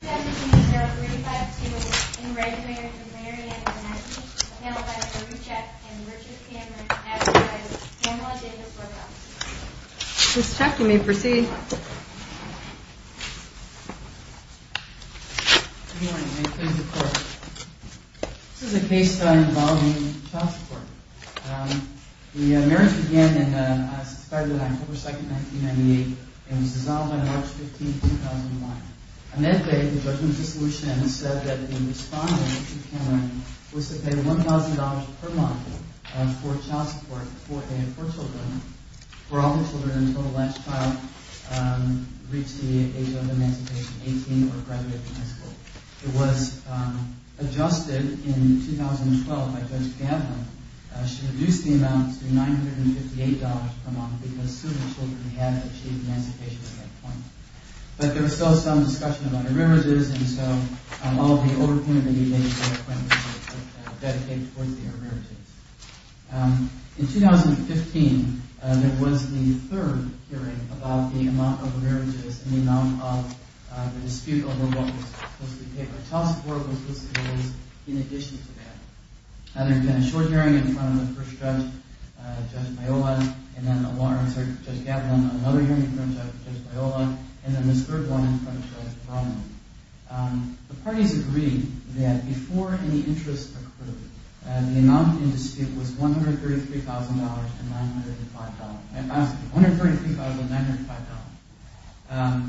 This is a case involving child support. The marriage began on September 2, 1998 and was dissolved on March 15, 2001. Reinecke, the judge of dissolution, said that the respondent, Keith Cameron, was to pay $1,000 per month for child support for all the children until the last child reached the age of emancipation, 18, or graduated from high school. It was adjusted in 2012 by Judge Gadlin. She reduced the amount to $958 per month because so many children had achieved emancipation at that point. But there was still some discussion about arrearages, and so all of the overpayment of the emancipation plan was dedicated towards the arrearages. In 2015, there was the third hearing about the amount of arrearages and the amount of the dispute over what was supposed to be paid for child support was listed as in addition to that. There had been a short hearing in front of the first judge, Judge Biola, and then another hearing in front of Judge Gadlin, another hearing in front of Judge Biola, and then this third one in front of Judge Brownlee. The parties agreed that before any interest accrued, the amount in dispute was $133,905.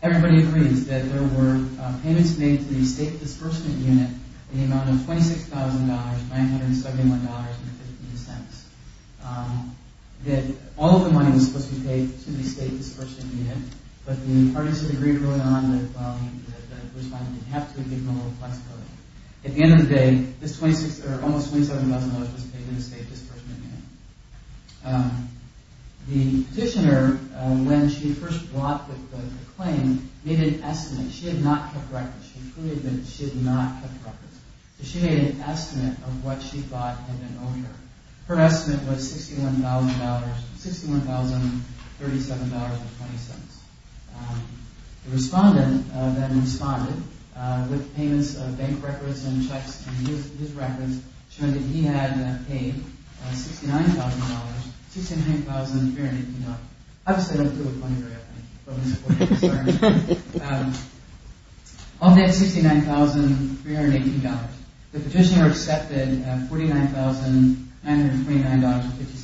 Everybody agrees that there were payments made to the State Disbursement Unit in the amount of $26,971.15. All of the money was supposed to be paid to the State Disbursement Unit, but the parties agreed early on that the respondent would have to ignore the flexibility. At the end of the day, almost $27,000 was paid to the State Disbursement Unit. The petitioner, when she first brought the claim, made an estimate. She had not kept records. She made an estimate of what she thought had been owed her. Her estimate was $61,037.20. The respondent then responded with payments of bank records and checks to his records, showing that he had paid $69,000.69. Obviously, I don't deal with money very often, but that's a point of concern. Of that $69,318, the petitioner accepted $49,929.50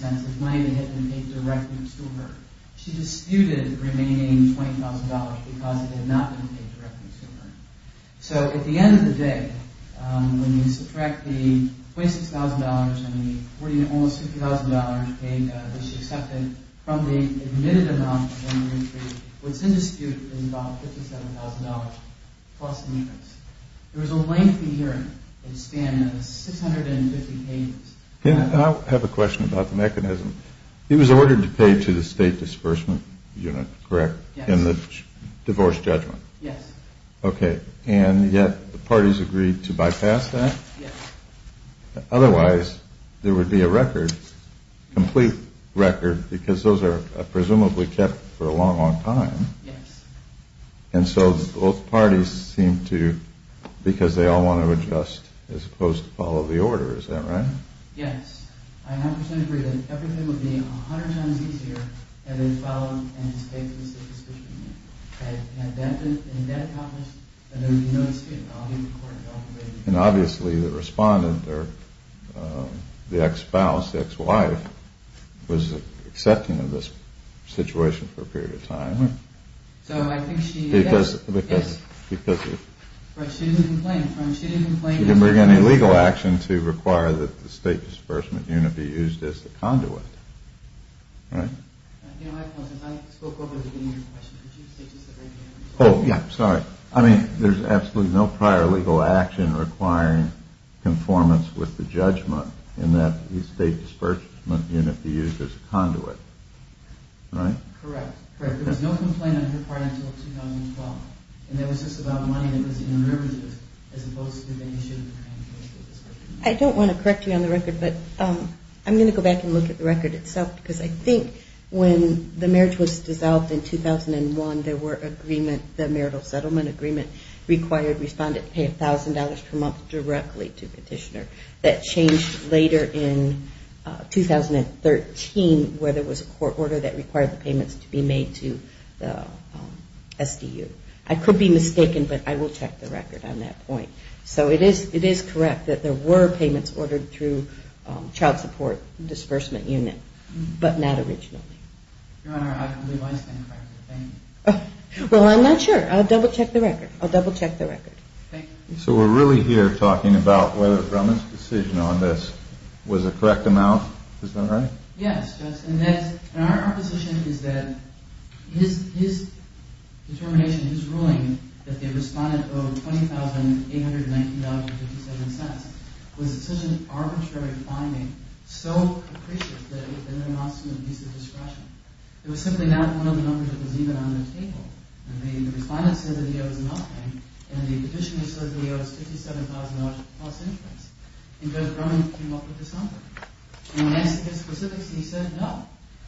as money that had been paid directly to her. She disputed the remaining $20,000 because it had not been paid directly to her. So, at the end of the day, when you subtract the $26,000 and the $40,000, almost $50,000, that she accepted from the admitted amount of the entry, what's in dispute is about $57,000 plus the merits. It was a lengthy hearing. It spanned 650 pages. Can I have a question about the mechanism? It was ordered to pay to the State Disbursement Unit, correct? Yes. In the divorce judgment? Yes. Okay, and yet the parties agreed to bypass that? Yes. Otherwise, there would be a record, a complete record, because those are presumably kept for a long, long time. Yes. And so both parties seem to, because they all want to adjust as opposed to follow the order, is that right? Yes. I 100% agree that everything would be 100 times easier had it been followed and paid to the State Disbursement Unit. And had that been accomplished, there would be no dispute. And obviously, the respondent or the ex-spouse, the ex-wife, was accepting of this situation for a period of time. So, I think she did. Because, because, because. But she didn't complain. She didn't bring any legal action to require that the State Disbursement Unit be used as the conduit, right? You know, I spoke over the beginning of your question. Could you say just the very beginning? Oh, yeah. Sorry. I mean, there's absolutely no prior legal action requiring conformance with the judgment in that the State Disbursement Unit be used as a conduit. Right? Correct. Correct. There was no complaint on her part until 2012. And that was just about money that was in the rivers, as opposed to the issue of the kind of case that this was. I don't want to correct you on the record, but I'm going to go back and look at the record itself. Because I think when the marriage was dissolved in 2001, there were agreement, the marital settlement agreement, required respondent to pay $1,000 per month directly to petitioner. That changed later in 2013, where there was a court order that required the payments to be made to the SDU. I could be mistaken, but I will check the record on that point. So it is correct that there were payments ordered through Child Support Disbursement Unit, but not originally. Your Honor, I believe I stand corrected. Thank you. Well, I'm not sure. I'll double check the record. I'll double check the record. Thank you. So we're really here talking about whether Drummond's decision on this was a correct amount. Is that right? Yes. And our position is that his determination, his ruling, that the respondent owed $20,819.57, was such an arbitrary finding, so capricious, that it would have been an offense to an abuse of discretion. It was simply not one of the numbers that was even on the table. The respondent said that he owes nothing, and the petitioner said that he owes $57,000 plus interest. And Judge Drummond came up with this number. When I asked him his specifics, he said no.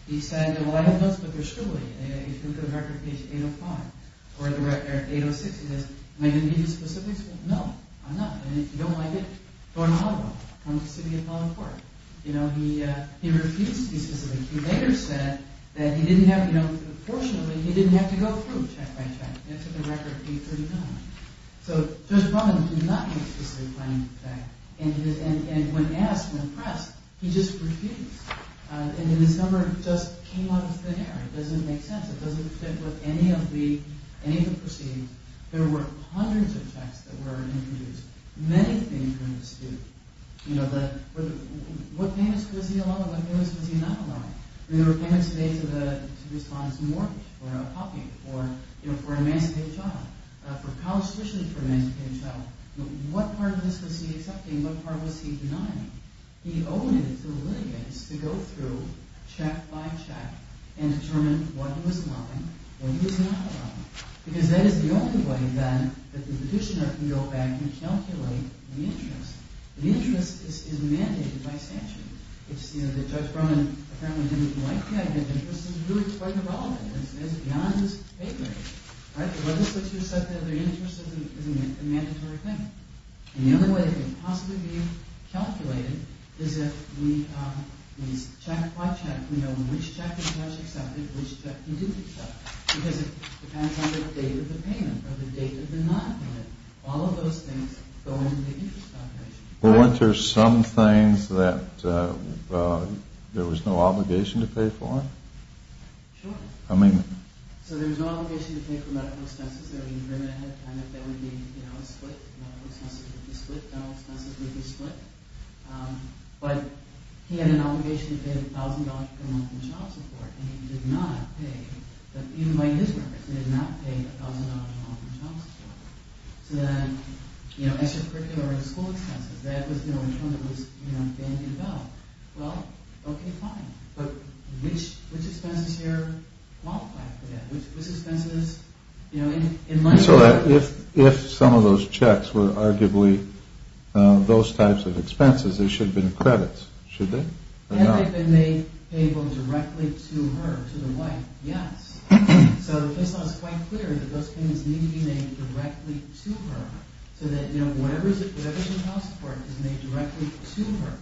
He said, well, I have notes, but they're still there. If you look at the record, page 806, he says, am I going to give you the specifics? Well, no, I'm not. And if you don't like it, throw them out of the way. I'm just sitting here calling the court. You know, he refused to be specific. He later said that he didn't have, you know, fortunately, he didn't have to go through check by check. That's at the record, page 39. So Judge Drummond did not make a specific claim to the fact. And when asked, when pressed, he just refused. And then this number just came out of thin air. It doesn't make sense. It doesn't fit with any of the proceedings. There were hundreds of checks that were introduced. Many things were misused. You know, what payments was he allowed and what payments was he not allowed? I mean, there were payments today to respond to a mortgage, or a copy, or, you know, for an emancipated child. For college tuition for an emancipated child. What part of this was he accepting? What part was he denying? He owed it to the litigants to go through check by check and determine what he was allowing and what he was not allowing. Because that is the only way, then, that the petitioner can go back and calculate the interest. The interest is mandated by statute. It's, you know, that Judge Drummond apparently didn't like the idea of interest. It's really quite irrelevant. It's beyond his favor. Right? It wasn't that you said that the interest is a mandatory payment. And the only way it can possibly be calculated is if we check by check. We know which check the judge accepted and which check he didn't accept. Because it depends on the date of the payment or the date of the non-payment. All of those things go into the interest calculation. Weren't there some things that there was no obligation to pay for? Sure. I mean... So there was no obligation to pay for medical expenses. I mean, Drummond had kind of, there would be, you know, a split. Medical expenses would be split. Dental expenses would be split. But he had an obligation to pay $1,000 per month in child support. And he did not pay, even by his records, he did not pay $1,000 per month in child support. So then, you know, extracurricular and school expenses, that was, you know, in terms of what was being developed. Well, okay, fine. But which expenses here qualified for that? Which expenses, you know, in my view... So if some of those checks were arguably those types of expenses, there should have been credits, should there? Had they been made payable directly to her, to the wife? Yes. So the case law is quite clear that those payments need to be made directly to her so that, you know, whatever is in child support is made directly to her.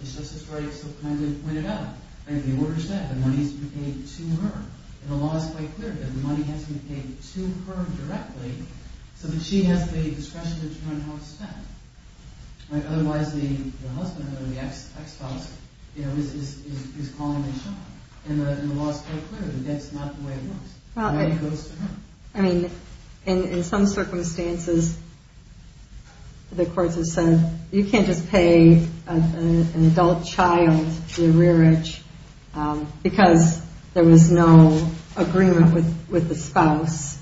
And Justice Breyer so kindly pointed out. I mean, the order said the money needs to be paid to her. And the law is quite clear that the money has to be paid to her directly so that she has the discretion to determine how it's spent. Right? Otherwise, the husband or the ex-husband, you know, is calling the shot. And the law is quite clear that that's not the way it works. The money goes to her. I mean, in some circumstances, the courts have said, you can't just pay an adult child the arrearage because there was no agreement with the spouse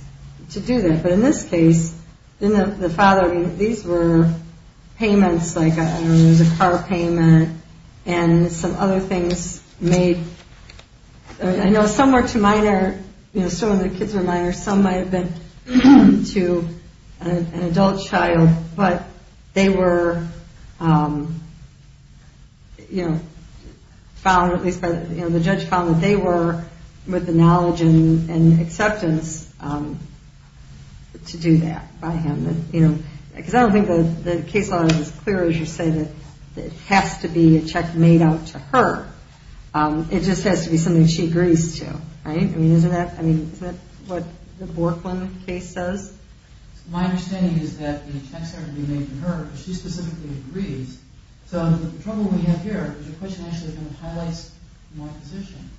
to do that. But in this case, the father, these were payments like, I don't know, there was a car payment and some other things made. I know some were to minor, you know, some of the kids were minor. Some might have been to an adult child, but they were, you know, found, at least the judge found that they were with the knowledge and acceptance to do that by him. Because I don't think the case law is as clear as you say that it has to be a check made out to her. It just has to be something she agrees to, right? I mean, isn't that what the Borklin case says? My understanding is that the checks are to be made to her, but she specifically agrees. So the trouble we have here is the question actually kind of highlights my position.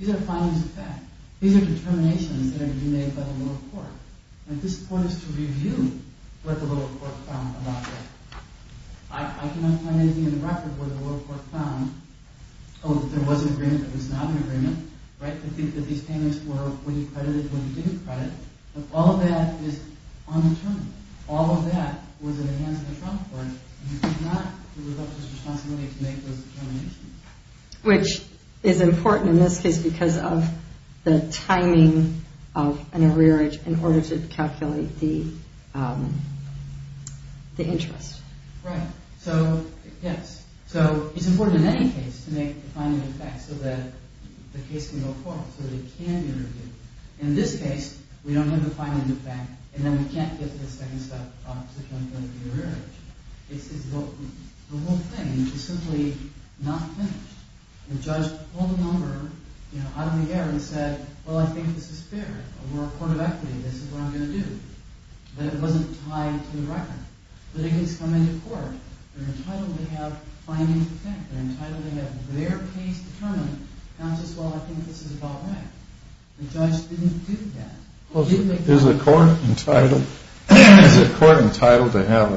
These are findings of fact. These are determinations that are to be made by the lower court. And this point is to review what the lower court found about that. I cannot find anything in the record where the lower court found, oh, there was an agreement that was not an agreement, right? They think that these payments were what he credited, what he didn't credit. But all of that is undetermined. All of that was in the hands of the trial court. And he did not develop his responsibility to make those determinations. Which is important in this case because of the timing of an arrearage in order to calculate the interest. Right. So, yes. So it's important in any case to make a finding of fact so that the case can go forward, so that it can be reviewed. In this case, we don't have a finding of fact, and then we can't get to the second step of such an arrearage. The whole thing is simply not finished. The judge pulled a number out of the air and said, well, I think this is fair. We're a court of equity. This is what I'm going to do. But it wasn't tied to the record. But it has come into court. They're entitled to have findings of fact. They're entitled to have their case determined. Not just, well, I think this is about right. The judge didn't do that. Is the court entitled to have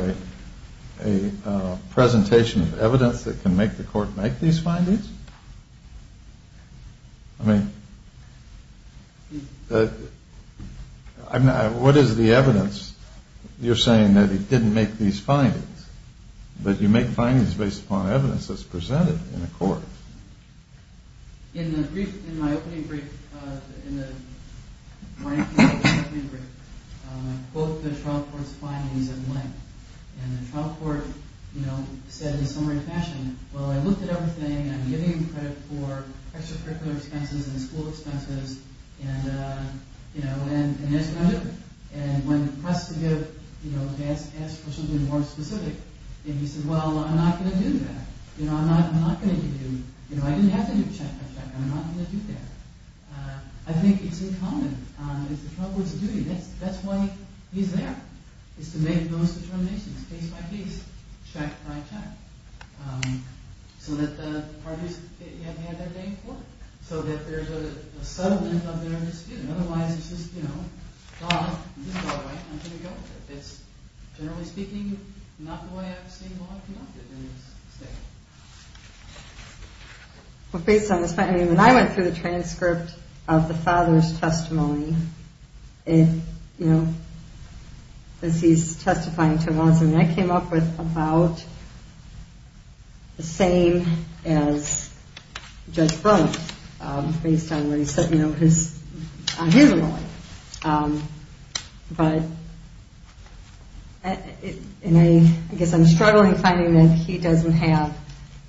a presentation of evidence that can make the court make these findings? I mean, what is the evidence? You're saying that it didn't make these findings. But you make findings based upon evidence that's presented in a court. In my opening brief, both the trial court's findings are the same. And the trial court said in a summary fashion, well, I looked at everything. I'm giving credit for extracurricular expenses and school expenses, and there's no difference. And when pressed to ask for something more specific, he said, well, I'm not going to do that. I'm not going to do, I didn't have to do check by check. I'm not going to do that. I think it's in common. It's the trial court's duty. That's why he's there, is to make those determinations case by case, check by check. So that the parties have had their day in court. So that there's a settlement of their dispute. Otherwise, it's just, you know, gone. This is all right. I'm going to go with it. It's generally speaking, not the way I've seen law conducted in this state. Well, based on this, I mean, when I went through the transcript of the father's testimony, and, you know, as he's testifying to laws, I mean, I came up with about the same as Judge Brunt, based on what he said, you know, on his lawyer. But, and I guess I'm struggling finding that he doesn't have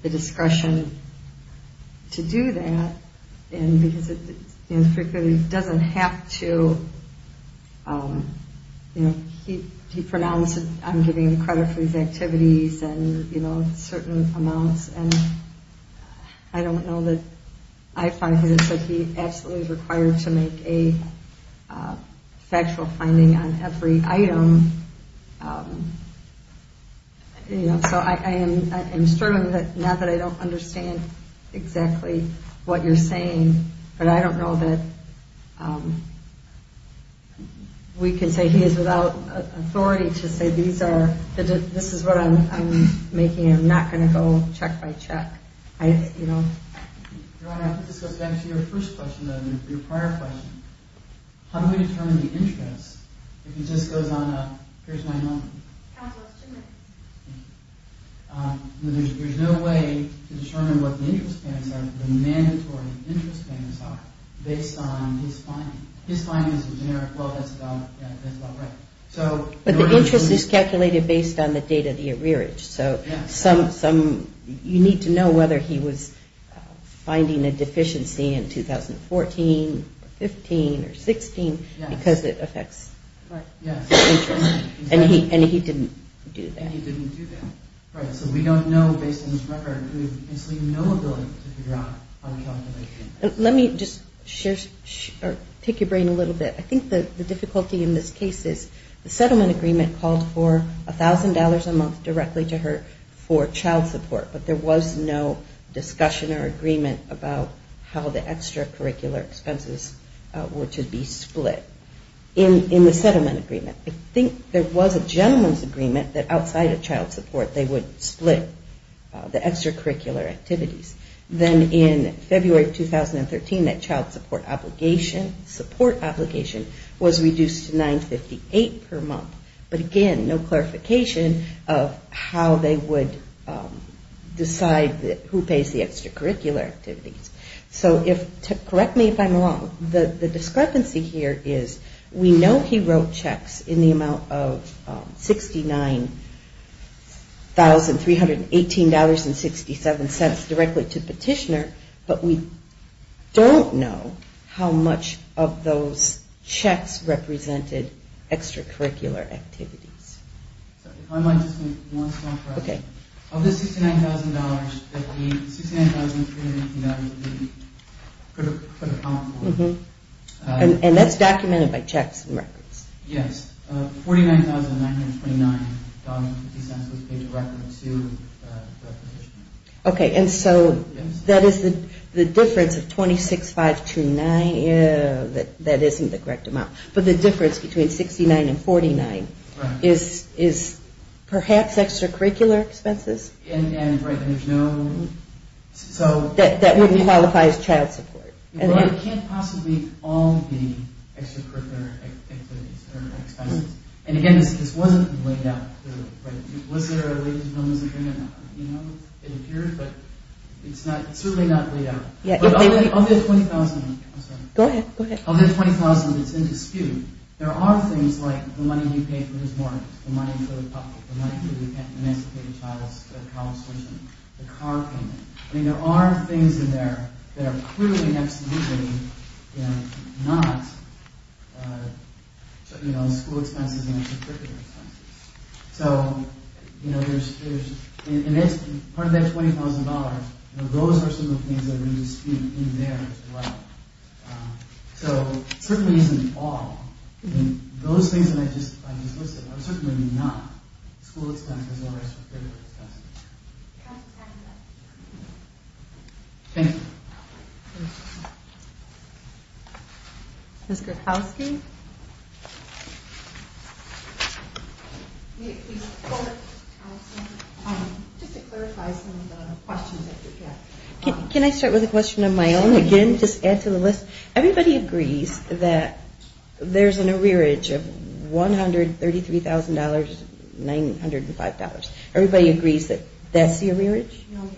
the discretion to do that. And because he doesn't have to, you know, he pronounced, I'm giving him credit for these activities, and, you know, certain amounts. And I don't know that I find that he's absolutely required to make a factual finding on every item. You know, so I am struggling, not that I don't understand exactly what you're saying, but I don't know that we can say he is without authority to say these are, this is what I'm making. I'm not going to go check by check. I, you know. Your Honor, this goes back to your first question, your prior question. How do we determine the interest if he just goes on a, here's my number. Counsel, it's two minutes. Thank you. There's no way to determine what the interest payments are, the mandatory interest payments are, based on his finding. His finding is a generic, well, that's about right. But the interest is calculated based on the date of the arrearage. So some, you need to know whether he was finding a deficiency in 2014, 15, or 16, because it affects interest. And he didn't do that. And he didn't do that. Right, so we don't know based on his record. We have absolutely no ability to figure out on calculation. Let me just share, take your brain a little bit. I think the difficulty in this case is the settlement agreement called for $1,000 a month directly to her for child support. But there was no discussion or agreement about how the extracurricular expenses were to be split in the settlement agreement. I think there was a gentleman's agreement that outside of child support they would split the extracurricular activities. Then in February of 2013 that child support obligation, support obligation, was reduced to $9.58 per month. But again, no clarification of how they would decide who pays the extracurricular activities. So if, correct me if I'm wrong, the discrepancy here is we know he wrote checks in the amount of $69,318.67 directly to Petitioner, but we don't know how much of those checks represented extracurricular activities. If I might just make one small correction. Of the $69,318 that he put upon for her. And that's documented by checks and records? Yes, $49,929.50 was paid directly to Petitioner. Okay, and so that is the difference of 26,529, that isn't the correct amount. But the difference between $69,319.50 and $49,319.50 is perhaps extracurricular expenses? That wouldn't qualify as child support. It can't possibly all be extracurricular expenses. And again, this wasn't laid out. Was there a ladies' and gentlemen's agreement? It appeared, but it's certainly not laid out. Of the $20,000 that's in dispute, there are things like the money you pay for his mortgage, the money for the public, the money for the emancipated child's college tuition, the car payment. There are things in there that are clearly and absolutely not school expenses and extracurricular expenses. And part of that $20,000, those are some of the things that are in dispute in there as well. So it certainly isn't all. Those things that I just listed are certainly not school expenses or extracurricular expenses. Counsel's time is up. Thank you. Ms. Gretkowski? Can I start with a question of my own again, just add to the list? Everybody agrees that there's an arrearage of $133,905. Everybody agrees that that's the arrearage? No, ma'am.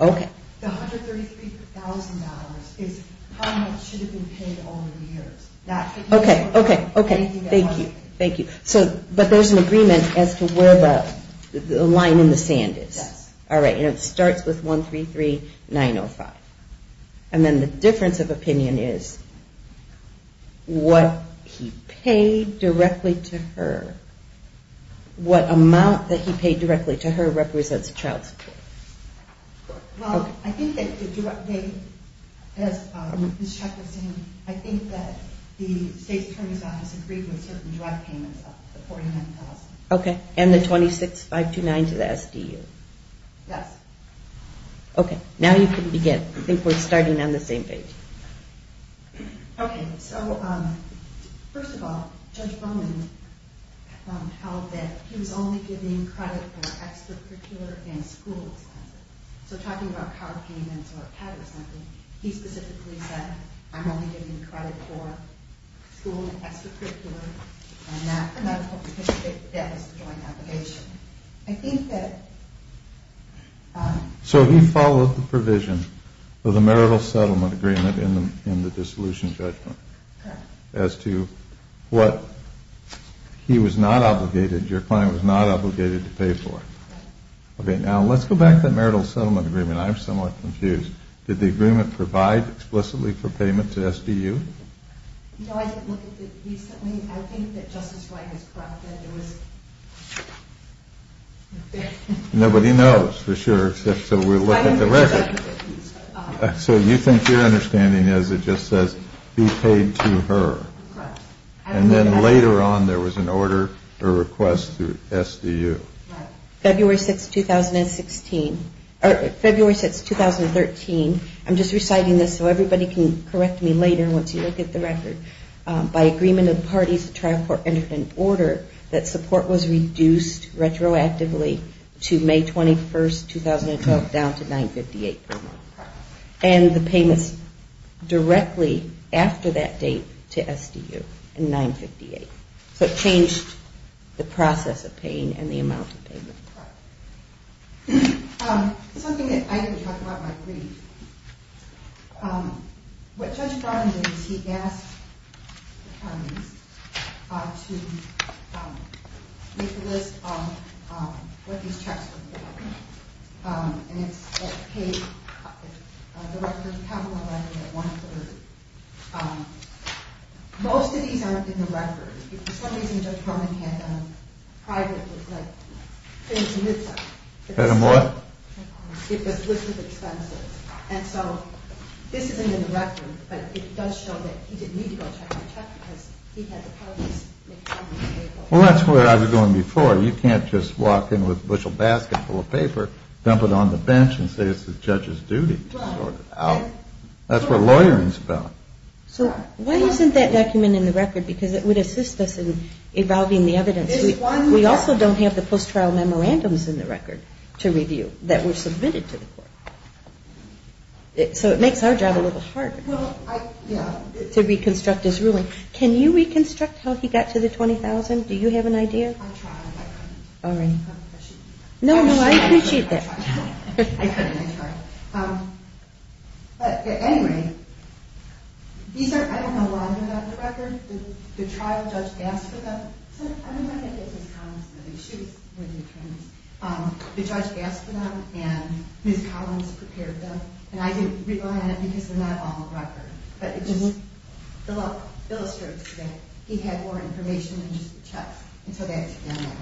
Okay. The $133,000 is how much should have been paid over the years. Okay, okay, okay. Thank you. Thank you. But there's an agreement as to where the line in the sand is? Yes. All right, and it starts with $133,905. And then the difference of opinion is what he paid directly to her, what amount that he paid directly to her represents child support? Well, I think that the direct date, as Ms. Gretkowski said, I think that the state's attorney's office agreed with certain direct payments of the $49,000. Okay, and the $26,529 to the SDU? Yes. Okay, now you can begin. I think we're starting on the same page. Okay, so first of all, Judge Bowman held that he was only giving credit for extracurricular and school expenses. So talking about car payments or pet or something, he specifically said, I'm only giving credit for school and extracurricular, and that's because of the deficit joint application. So he followed the provision of the marital settlement agreement in the dissolution judgment as to what he was not obligated, your client was not obligated to pay for. Okay, now let's go back to the marital settlement agreement. I'm somewhat confused. Did the agreement provide explicitly for payment to SDU? No, I didn't look at it recently. I think that Justice Wright has corrected. Nobody knows for sure, so we'll look at the record. So you think your understanding is it just says be paid to her. Correct. And then later on there was an order or request to SDU. Right. February 6, 2016, or February 6, 2013, I'm just reciting this so everybody can correct me later once you look at the record, by agreement of the parties, the trial court entered an order that support was reduced retroactively to May 21, 2012, down to $958 per month. And the payments directly after that date to SDU in $958. So it changed the process of paying and the amount of payment. Right. Something that I didn't talk about in my brief, what Judge Brown did is he asked attorneys to make a list of what these checks were for. And it's paid, the record, the capital record at one third. Most of these aren't in the record. For some reason Judge Homan had a private list of expenses. Had a what? A list of expenses. And so this isn't in the record, but it does show that he didn't need to go check on the check because he had the parties make it on the table. Well, that's where I was going before. You can't just walk in with a bushel basket full of paper, dump it on the bench, and say it's the judge's duty to sort it out. That's what lawyering is about. So why isn't that document in the record? Because it would assist us in evolving the evidence. We also don't have the post-trial memorandums in the record to review that were submitted to the court. So it makes our job a little harder to reconstruct his ruling. Can you reconstruct how he got to the $20,000? Do you have an idea? I'll try. No, no, I appreciate that. Anyway, I don't know a lot about the record. Did the trial judge ask for them? I don't know if it was Ms. Collins. She was one of the attorneys. Did the judge ask for them and Ms. Collins prepared them? And I didn't rely on it because they're not all in the record. But it just illustrates that he had more information than just the check. And so that's in there.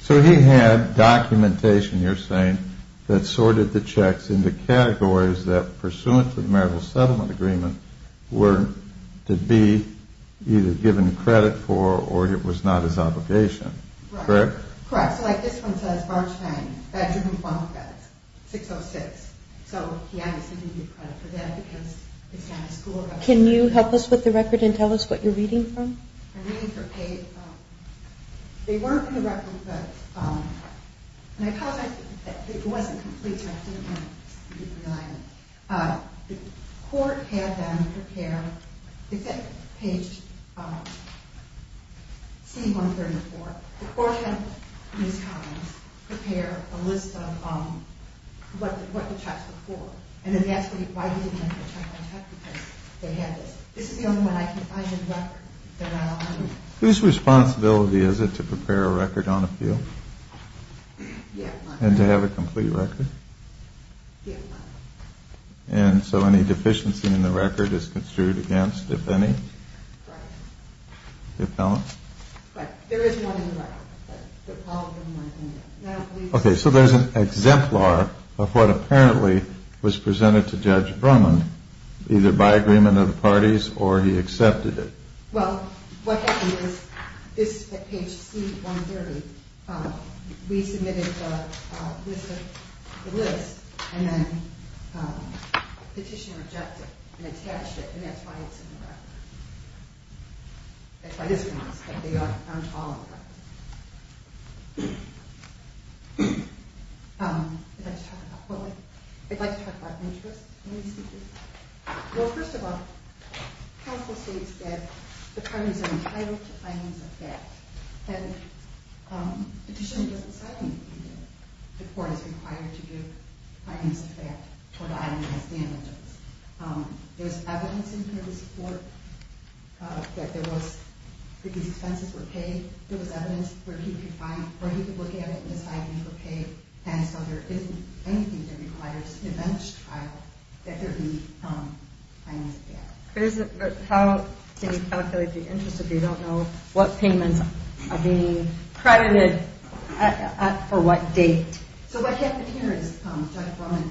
So he had documentation, you're saying, that sorted the checks into categories that, pursuant to the Marital Settlement Agreement, were to be either given credit for or it was not his obligation. Correct? Correct. So like this one says, Barnstein, bedroom and funnel beds, 606. So he obviously didn't get credit for that because it's not his school record. Can you help us with the record and tell us what you're reading from? I'm reading from page – they weren't in the record, but – and I apologize that it wasn't complete, so I didn't rely on it. The court had them prepare – is that page C134? The court had Ms. Collins prepare a list of what the checks were for and then asked why we didn't have the check on check because they had this. This is the only one I can find in the record that I'll – Whose responsibility is it to prepare a record on appeal? The appellant. And to have a complete record? The appellant. And so any deficiency in the record is construed against, if any? Correct. The appellant? Correct. There is one in the record, but probably more than that. Okay. So there's an exemplar of what apparently was presented to Judge Brumman, either by agreement of the parties or he accepted it. Well, what happened is this, at page C130, we submitted the list and then the petitioner rejected it and attached it, and that's why it's in the record. That's why this one is, but they aren't all in the record. I'd like to talk about – well, I'd like to talk about interest in these cases. Well, first of all, counsel states that the parties are entitled to findings of fact and the petitioner doesn't say anything there. The court is required to give findings of fact for the items as damages. There's evidence in court of support that there was – that these expenses were paid. There was evidence where he could find – where he could look at it and decide it was okay, and so there isn't anything that requires an advantage trial that there be findings of fact. How can you calculate the interest if you don't know what payments are being credited at for what date? So what happened here is Judge Brumman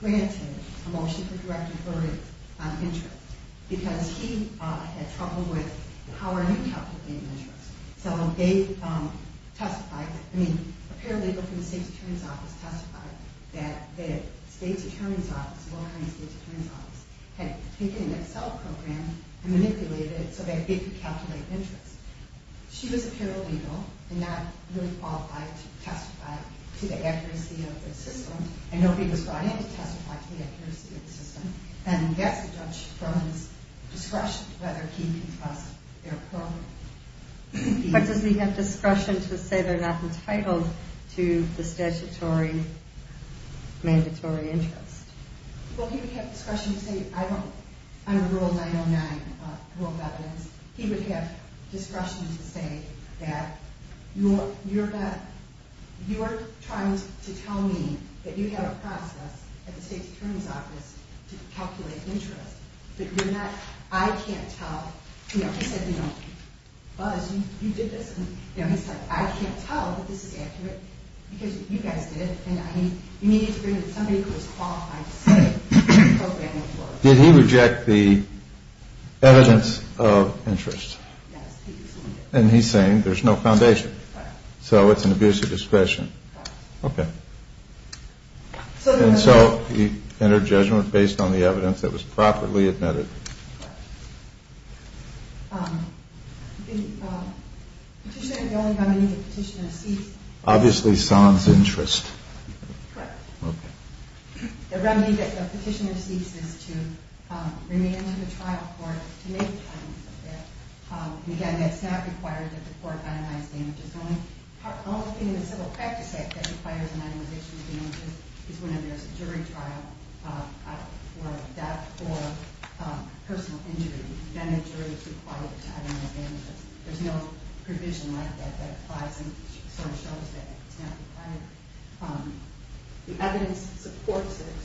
granted a motion for direct authority on interest because he had trouble with how are you calculating interest. So they testified – I mean, a paralegal from the State's Attorney's Office testified that the State's Attorney's Office, the law firm's State's Attorney's Office, had taken an Excel program and manipulated it so that they could calculate interest. She was a paralegal and not really qualified to testify to the accuracy of the system, and nobody was brought in to testify to the accuracy of the system. And yes, Judge Brumman's discretion to whether he can trust their program. But does he have discretion to say they're not entitled to the statutory mandatory interest? Well, he would have discretion to say, I don't – under Rule 909, Rule of Evidence, he would have discretion to say that you're not – you are trying to tell me that you have a process at the State's Attorney's Office to calculate interest. But you're not – I can't tell – you know, he said, you know, Buzz, you did this. And, you know, he said, I can't tell that this is accurate because you guys did it. And I mean, you need to bring in somebody who is qualified to say that the program was flawed. Did he reject the evidence of interest? Yes, he did. And he's saying there's no foundation. Right. So it's an abuse of discretion. Right. Okay. And so he entered judgment based on the evidence that was properly admitted. Correct. The petitioner – the only remedy the petitioner seeks – Obviously, Sons interest. Correct. Okay. The remedy that the petitioner seeks is to remain in the trial court to make claims of that. And, again, that's not required that the court itemize damages. The only thing in the Civil Practice Act that requires an itemization of damages is when there's a jury trial for death or personal injury. Then the jury is required to itemize damages. There's no provision like that that applies and sort of shows that it's not required. The evidence supports it.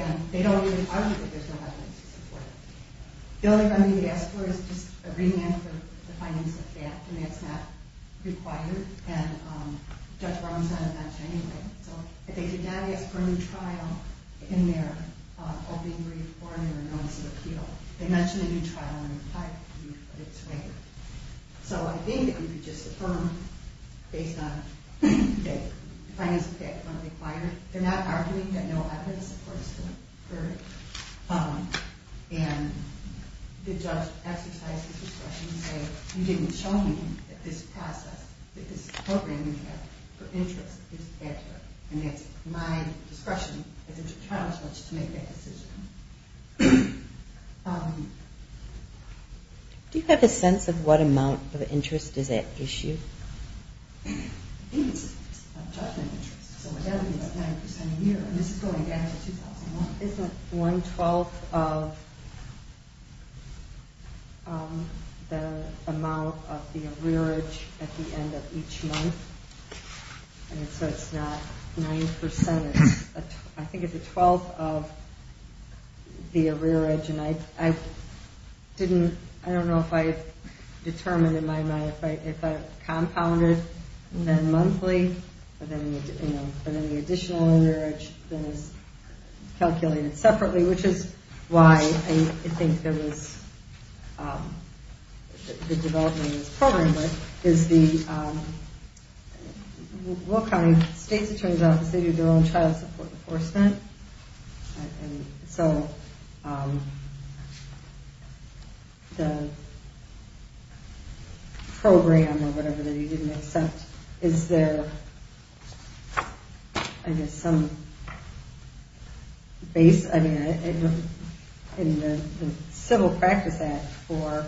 And they don't really argue that there's no evidence to support it. The only remedy they ask for is just a remand for the findings of death. And that's not required. And Judge Brown's not going to mention it anyway. So if they did not ask for a new trial in their opening brief or in their notice of appeal, they mention a new trial in their 5th brief, but it's later. So I think that you could just affirm based on the findings of death when required. They're not arguing that no evidence supports it. And the judge exercised his discretion to say, you didn't show me that this process, that this program you have for interest is accurate. And that's my discretion as a trial judge to make that decision. Do you have a sense of what amount of interest is at issue? I think it's a judgment interest. So what that would be is 9% a year. This is going back to 2001. Isn't one twelfth of the amount of the arrearage at the end of each month? And so it's not 9%. I think it's a twelfth of the arrearage. And I don't know if I've determined in my mind if I've compounded then monthly or any additional arrearage that is calculated separately, which is why I think there was the development of this program. But it's the Will County State's, it turns out, the state of their own child support enforcement. And so the program or whatever that he didn't accept, is there I guess some base in the Civil Practice Act for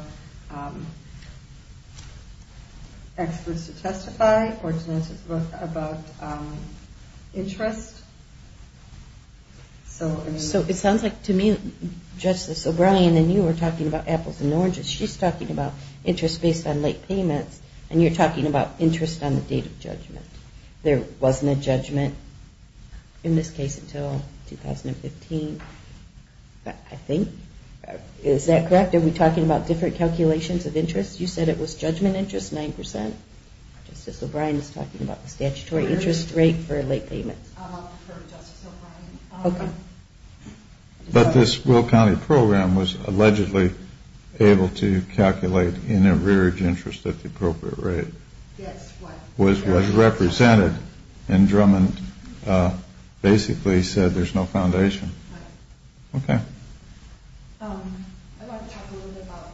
experts to testify about interest? So it sounds like to me, Justice O'Brien, and you were talking about apples and oranges. She's talking about interest based on late payments, and you're talking about interest on the date of judgment. There wasn't a judgment in this case until 2015, I think. Is that correct? Are we talking about different calculations of interest? You said it was judgment interest, 9%. Justice O'Brien is talking about the statutory interest rate for late payments. I'll defer to Justice O'Brien. Okay. But this Will County program was allegedly able to calculate an arrearage interest at the appropriate rate. Yes, what? Was represented and Drummond basically said there's no foundation. Right. Okay. I want to talk a little bit about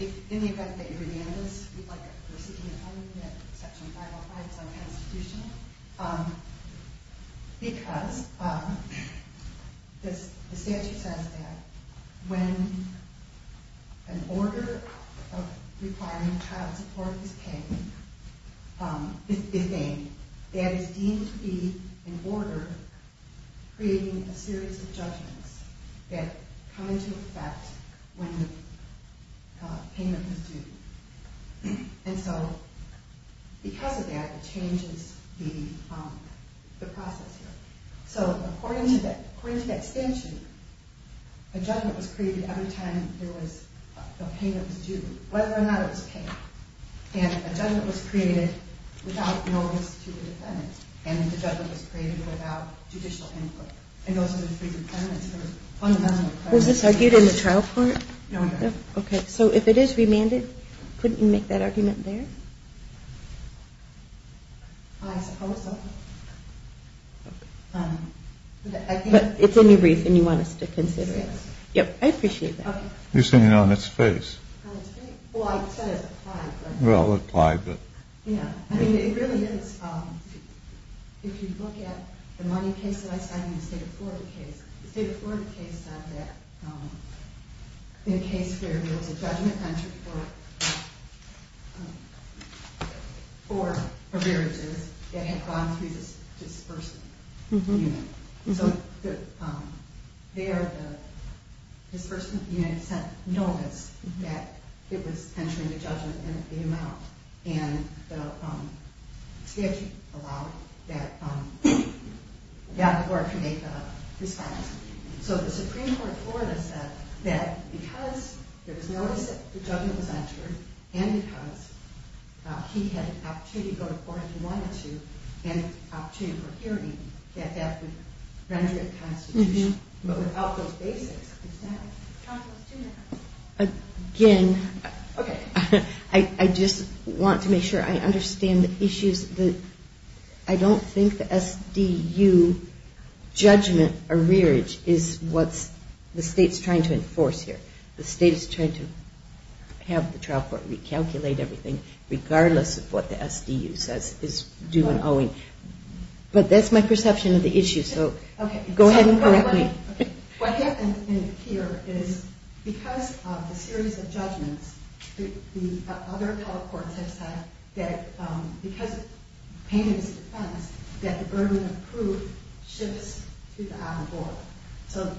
in the event that you demand this, to be like a proceeding in section 505 of the Constitution, because the statute says that when an order of requiring child support is paid, that is deemed to be an order creating a series of judgments that come into effect when the payment was due. And so because of that, it changes the process here. So according to the extension, a judgment was created every time the payment was due, whether or not it was paid. And a judgment was created without notice to the defendant, and the judgment was created without judicial input. And those are the three dependents. Was this argued in the trial court? No, it wasn't. Okay. So if it is remanded, couldn't you make that argument there? I suppose so. Okay. But it's in your brief, and you want us to consider it. Yes. Yep. I appreciate that. You're sitting on its face. Well, I said it's applied, but. Well, it's applied, but. Yeah. I mean, it really is. If you look at the money case that I cited in the state of Florida case, the state of Florida case said that in a case where there was a judgment entry for beverages that had gone through this dispersant unit. So there the dispersant unit sent notice that it was entering the judgment, and it came out. And the statute allowed that court to make a response. So the Supreme Court of Florida said that because there was notice that the judgment was entered, and because he had an opportunity to go to court if he wanted to, and an opportunity for hearing, that that would render it constitutional. But without those basics, it's not. Counsel is two minutes. Again. Okay. I just want to make sure I understand the issues. I don't think the SDU judgment or rearage is what the state is trying to enforce here. The state is trying to have the trial court recalculate everything, regardless of what the SDU says is due and owing. But that's my perception of the issue. So go ahead and correct me. Okay. What happened here is because of the series of judgments, the other telecourts have said that because payment is a defense, that the burden of proof shifts to the apple board.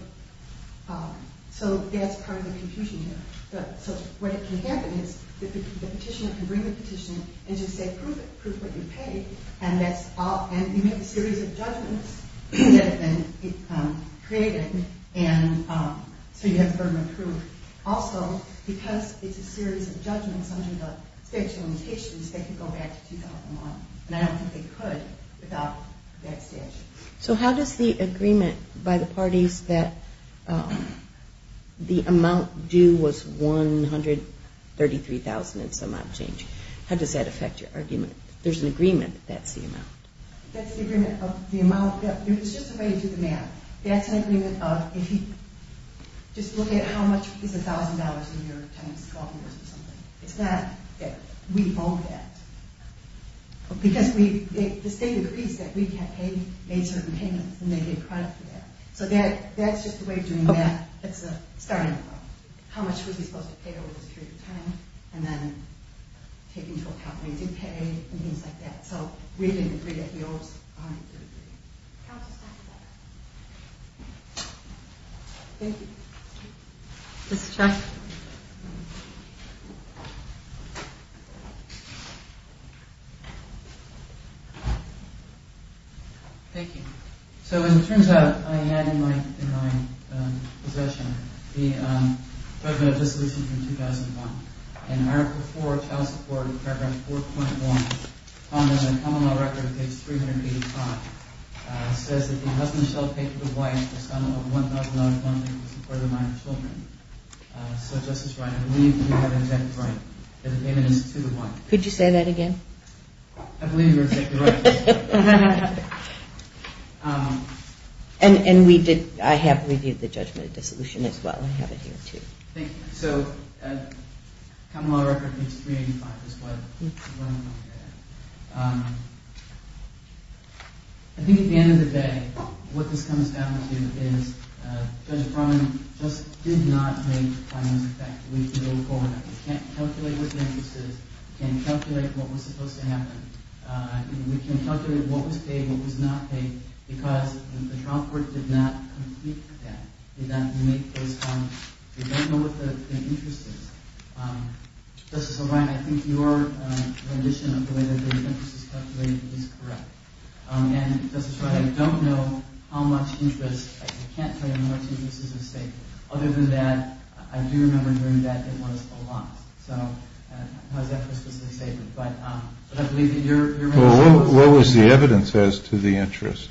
So that's part of the confusion here. So what can happen is the petitioner can bring the petitioner and just say, prove it. Prove what you paid. And that's all. And you make a series of judgments that have been created. And so you have the burden of proof. Also, because it's a series of judgments under the statute of limitations, they can go back to 2001. And I don't think they could without that statute. So how does the agreement by the parties that the amount due was $133,000 and some odd change, how does that affect your argument? There's an agreement that that's the amount. That's the agreement of the amount. There's just a way to do the math. That's an agreement of if you just look at how much is $1,000 in your 10, 12 years or something. It's not that we owe that. Because the state agrees that we can pay certain payments and they get credit for that. So that's just a way of doing math. It's a starting point. How much was he supposed to pay over this period of time? And then taking into account raising pay and things like that. So we didn't agree that he owes $133,000. How does that affect it? Thank you. Mr. Chuck. Thank you. So as it turns out, I had in my possession the judgment of dissolution from 2001. In Article IV, Child Support, Paragraph 4.1, common law record, page 385, says that the husband shall pay for the wife the sum of $1,000 for the support of the minor children. So, Justice Wright, I believe you have exactly right. The payment is to the wife. Could you say that again? I believe you're exactly right. And I have reviewed the judgment of dissolution as well. I have it here too. Thank you. So common law record, page 385 is what I'm looking at. I think at the end of the day, what this comes down to is Judge Brown just did not make payments effectively to the woman. We can't calculate what the interest is. We can't calculate what was supposed to happen. We can't calculate what was paid and what was not paid because the child support did not complete that. Did not make those payments. We don't know what the interest is. Justice O'Brien, I think your rendition of the way that the interest is calculated is correct. And, Justice Wright, I don't know how much interest, I can't tell you how much interest is at stake. Other than that, I do remember during that it was a lot. So, how is that precisely stated? But I believe that you're right. Well, what was the evidence as to the interest?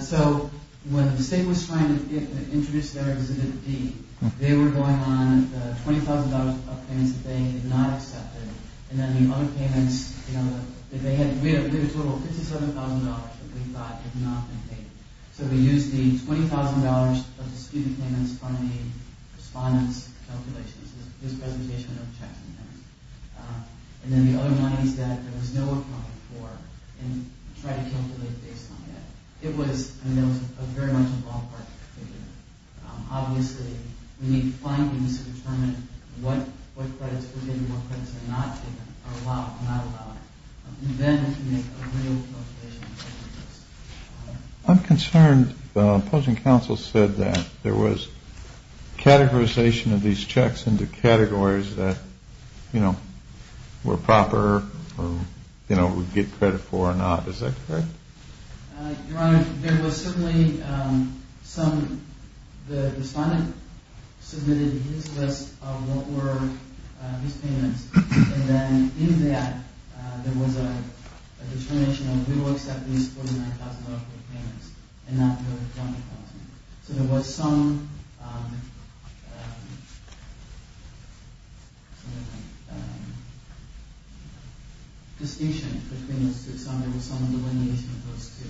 So, when the state was trying to introduce their Exhibit D, they were going on $20,000 of payments that they had not accepted. And then the other payments, we had a total of $57,000 that we thought had not been paid. So we used the $20,000 of the student payments on the respondent's calculations, his presentation of checks and payments. And then the other $90,000 that there was no account for and tried to calculate based on that. It was, I mean, it was very much a ballpark figure. Obviously, we need findings to determine what credits were given and what credits were not given or allowed or not allowed. And then we can make a real calculation. I'm concerned the opposing counsel said that there was categorization of these checks into categories that, you know, were proper or, you know, would get credit for or not. Is that correct? Your Honor, there was certainly some, the respondent submitted his list of what were his payments. And then in that, there was a determination of we will accept these $49,000 of payments and not the other $20,000. So there was some distinction between those two. Some of it was some delineation of those two.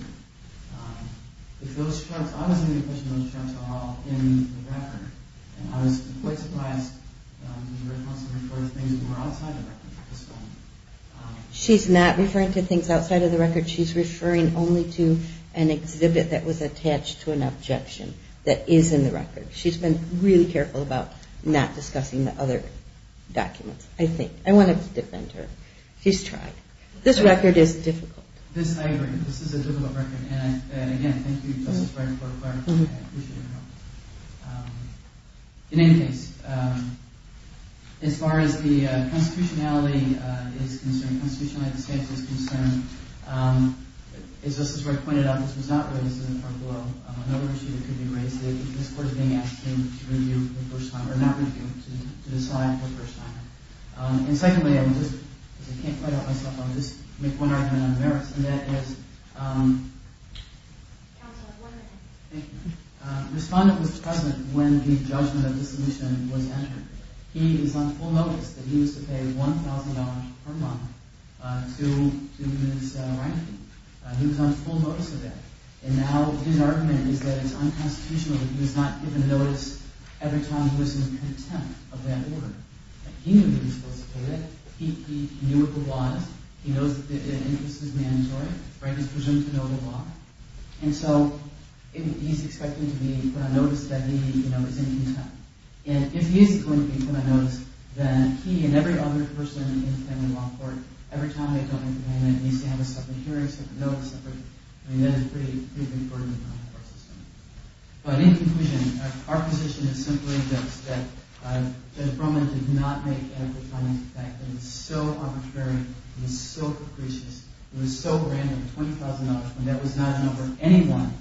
She's not referring to things outside of the record. She's referring only to an exhibit that was attached to an objection that is in the record. She's been really careful about not discussing the other documents, I think. I want to defend her. She's tried. This record is difficult. This, I agree. This is a difficult record. And, again, thank you, Justice Breyer, for clarifying that. I appreciate your help. In any case, as far as the constitutionality is concerned, constitutionality of the statute is concerned, as Justice Breyer pointed out, this was not raised in the court of law. Another issue that could be raised is that this Court is being asked to review the first time, or not review, to decide for the first time. And, secondly, I can't quite help myself. I'll just make one argument on the merits. And that is, Respondent was present when the judgment of the solution was entered. He is on full notice that he was to pay $1,000 per month to do this ranking. He was on full notice of that. And now his argument is that it's unconstitutional that he was not given notice every time he was in contempt of that order. He knew that he was supposed to pay that. He knew what the law is. He knows that the interest is mandatory. He's presumed to know the law. And so he's expected to be put on notice that he was in contempt. And if he is going to be put on notice, then he and every other person in the family law court, every time they don't implement it, needs to have a separate hearing, separate notice. I mean, that is a pretty big burden on our system. But in conclusion, our position is simply this, that Judge Brumman did not make adequate comments to the fact that it was so arbitrary and so capricious. It was so random, $20,000, when that was not a number anyone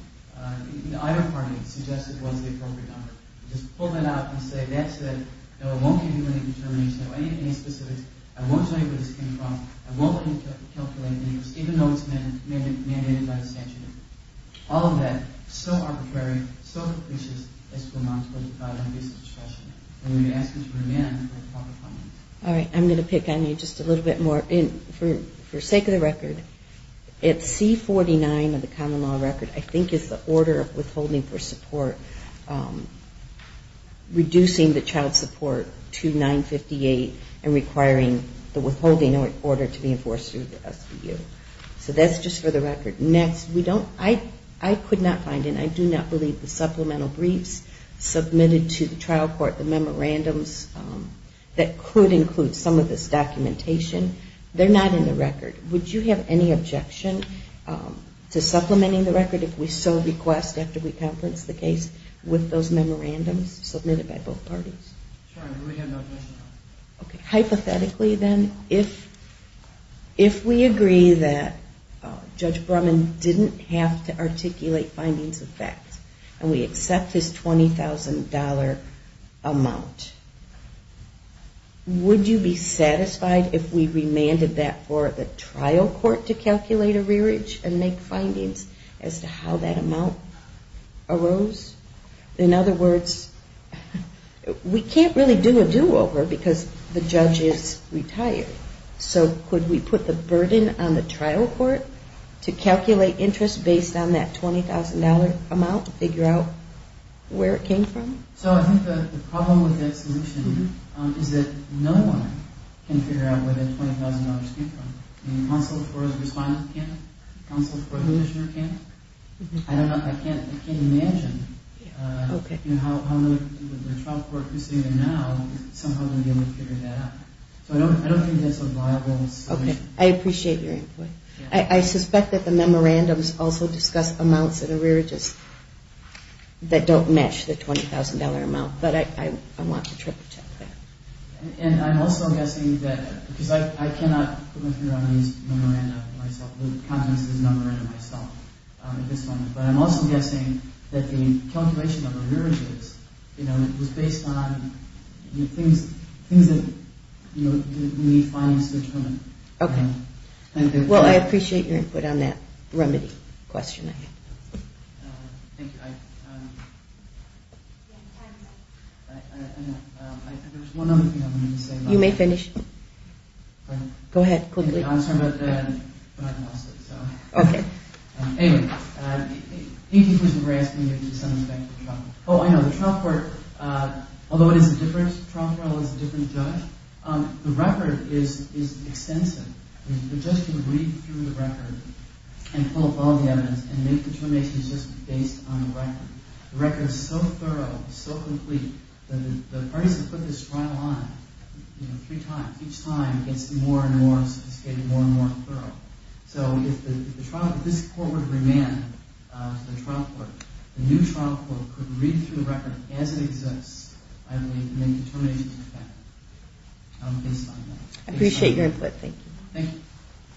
in either party suggested was the appropriate number. Just pull that out and say, that's it. No, I won't give you any determination. I won't give you any specifics. I won't tell you where this came from. I won't calculate any of this, even though it's mandated by the statute. All of that, so arbitrary, so capricious, is to amount to $25,000 discretion. And we ask Judge Brumman to make proper comments. All right. I'm going to pick on you just a little bit more. For sake of the record, it's C-49 of the common law record, I think, is the order of withholding for support, reducing the child support to 958 and requiring the withholding order to be enforced through the SVU. So that's just for the record. Next, I could not find, and I do not believe, the supplemental briefs submitted to the trial court, the memorandums that could include some of this documentation. They're not in the record. Would you have any objection to supplementing the record if we so request, after we conference the case, with those memorandums submitted by both parties? Sorry, we have no objection. Okay. Hypothetically, then, if we agree that Judge Brumman didn't have to articulate findings of fact, and we accept his $20,000 amount, would you be satisfied if we remanded that for the trial court to calculate a rearage and make findings as to how that amount arose? In other words, we can't really do a do-over because the judge is retired. So could we put the burden on the trial court to calculate interest based on that $20,000 amount to figure out where it came from? So I think the problem with that solution is that no one can figure out where the $20,000 came from. Counsel for the respondent can't? Counsel for the commissioner can't? I don't know. I can't imagine how the trial court, who's sitting there now, somehow would be able to figure that out. So I don't think that's a viable solution. Okay. I appreciate your input. I suspect that the memorandums also discuss amounts of the rearages that don't match the $20,000 amount, but I want to triple check that. And I'm also guessing that, because I cannot put my finger on these memorandums myself, the contents of these memorandums myself at this moment, but I'm also guessing that the calculation of the rearages was based on things that we need findings to determine. Okay. Well, I appreciate your input on that remedy question. Thank you. There's one other thing I wanted to say. You may finish. Go ahead. Quickly. I'm sorry about that. I lost it. Okay. Anyway, thank you for asking me to send this back to the trial court. Oh, I know. The trial court, although it is a different trial trial, it's a different judge, the record is extensive. The judge can read through the record and pull up all the evidence and make determinations just based on the record. The record is so thorough, so complete, that the parties that put this trial on three times, each time it gets more and more sophisticated, more and more thorough. So if this court were to remand to the trial court, the new trial court could read through the record as it exists and make determinations based on that. I appreciate your input. Thank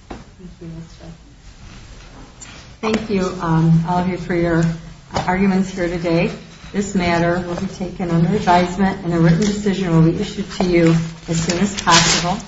you. Thank you, all of you, for your arguments here today. This matter will be taken under advisement and a written decision will be issued to you as soon as possible.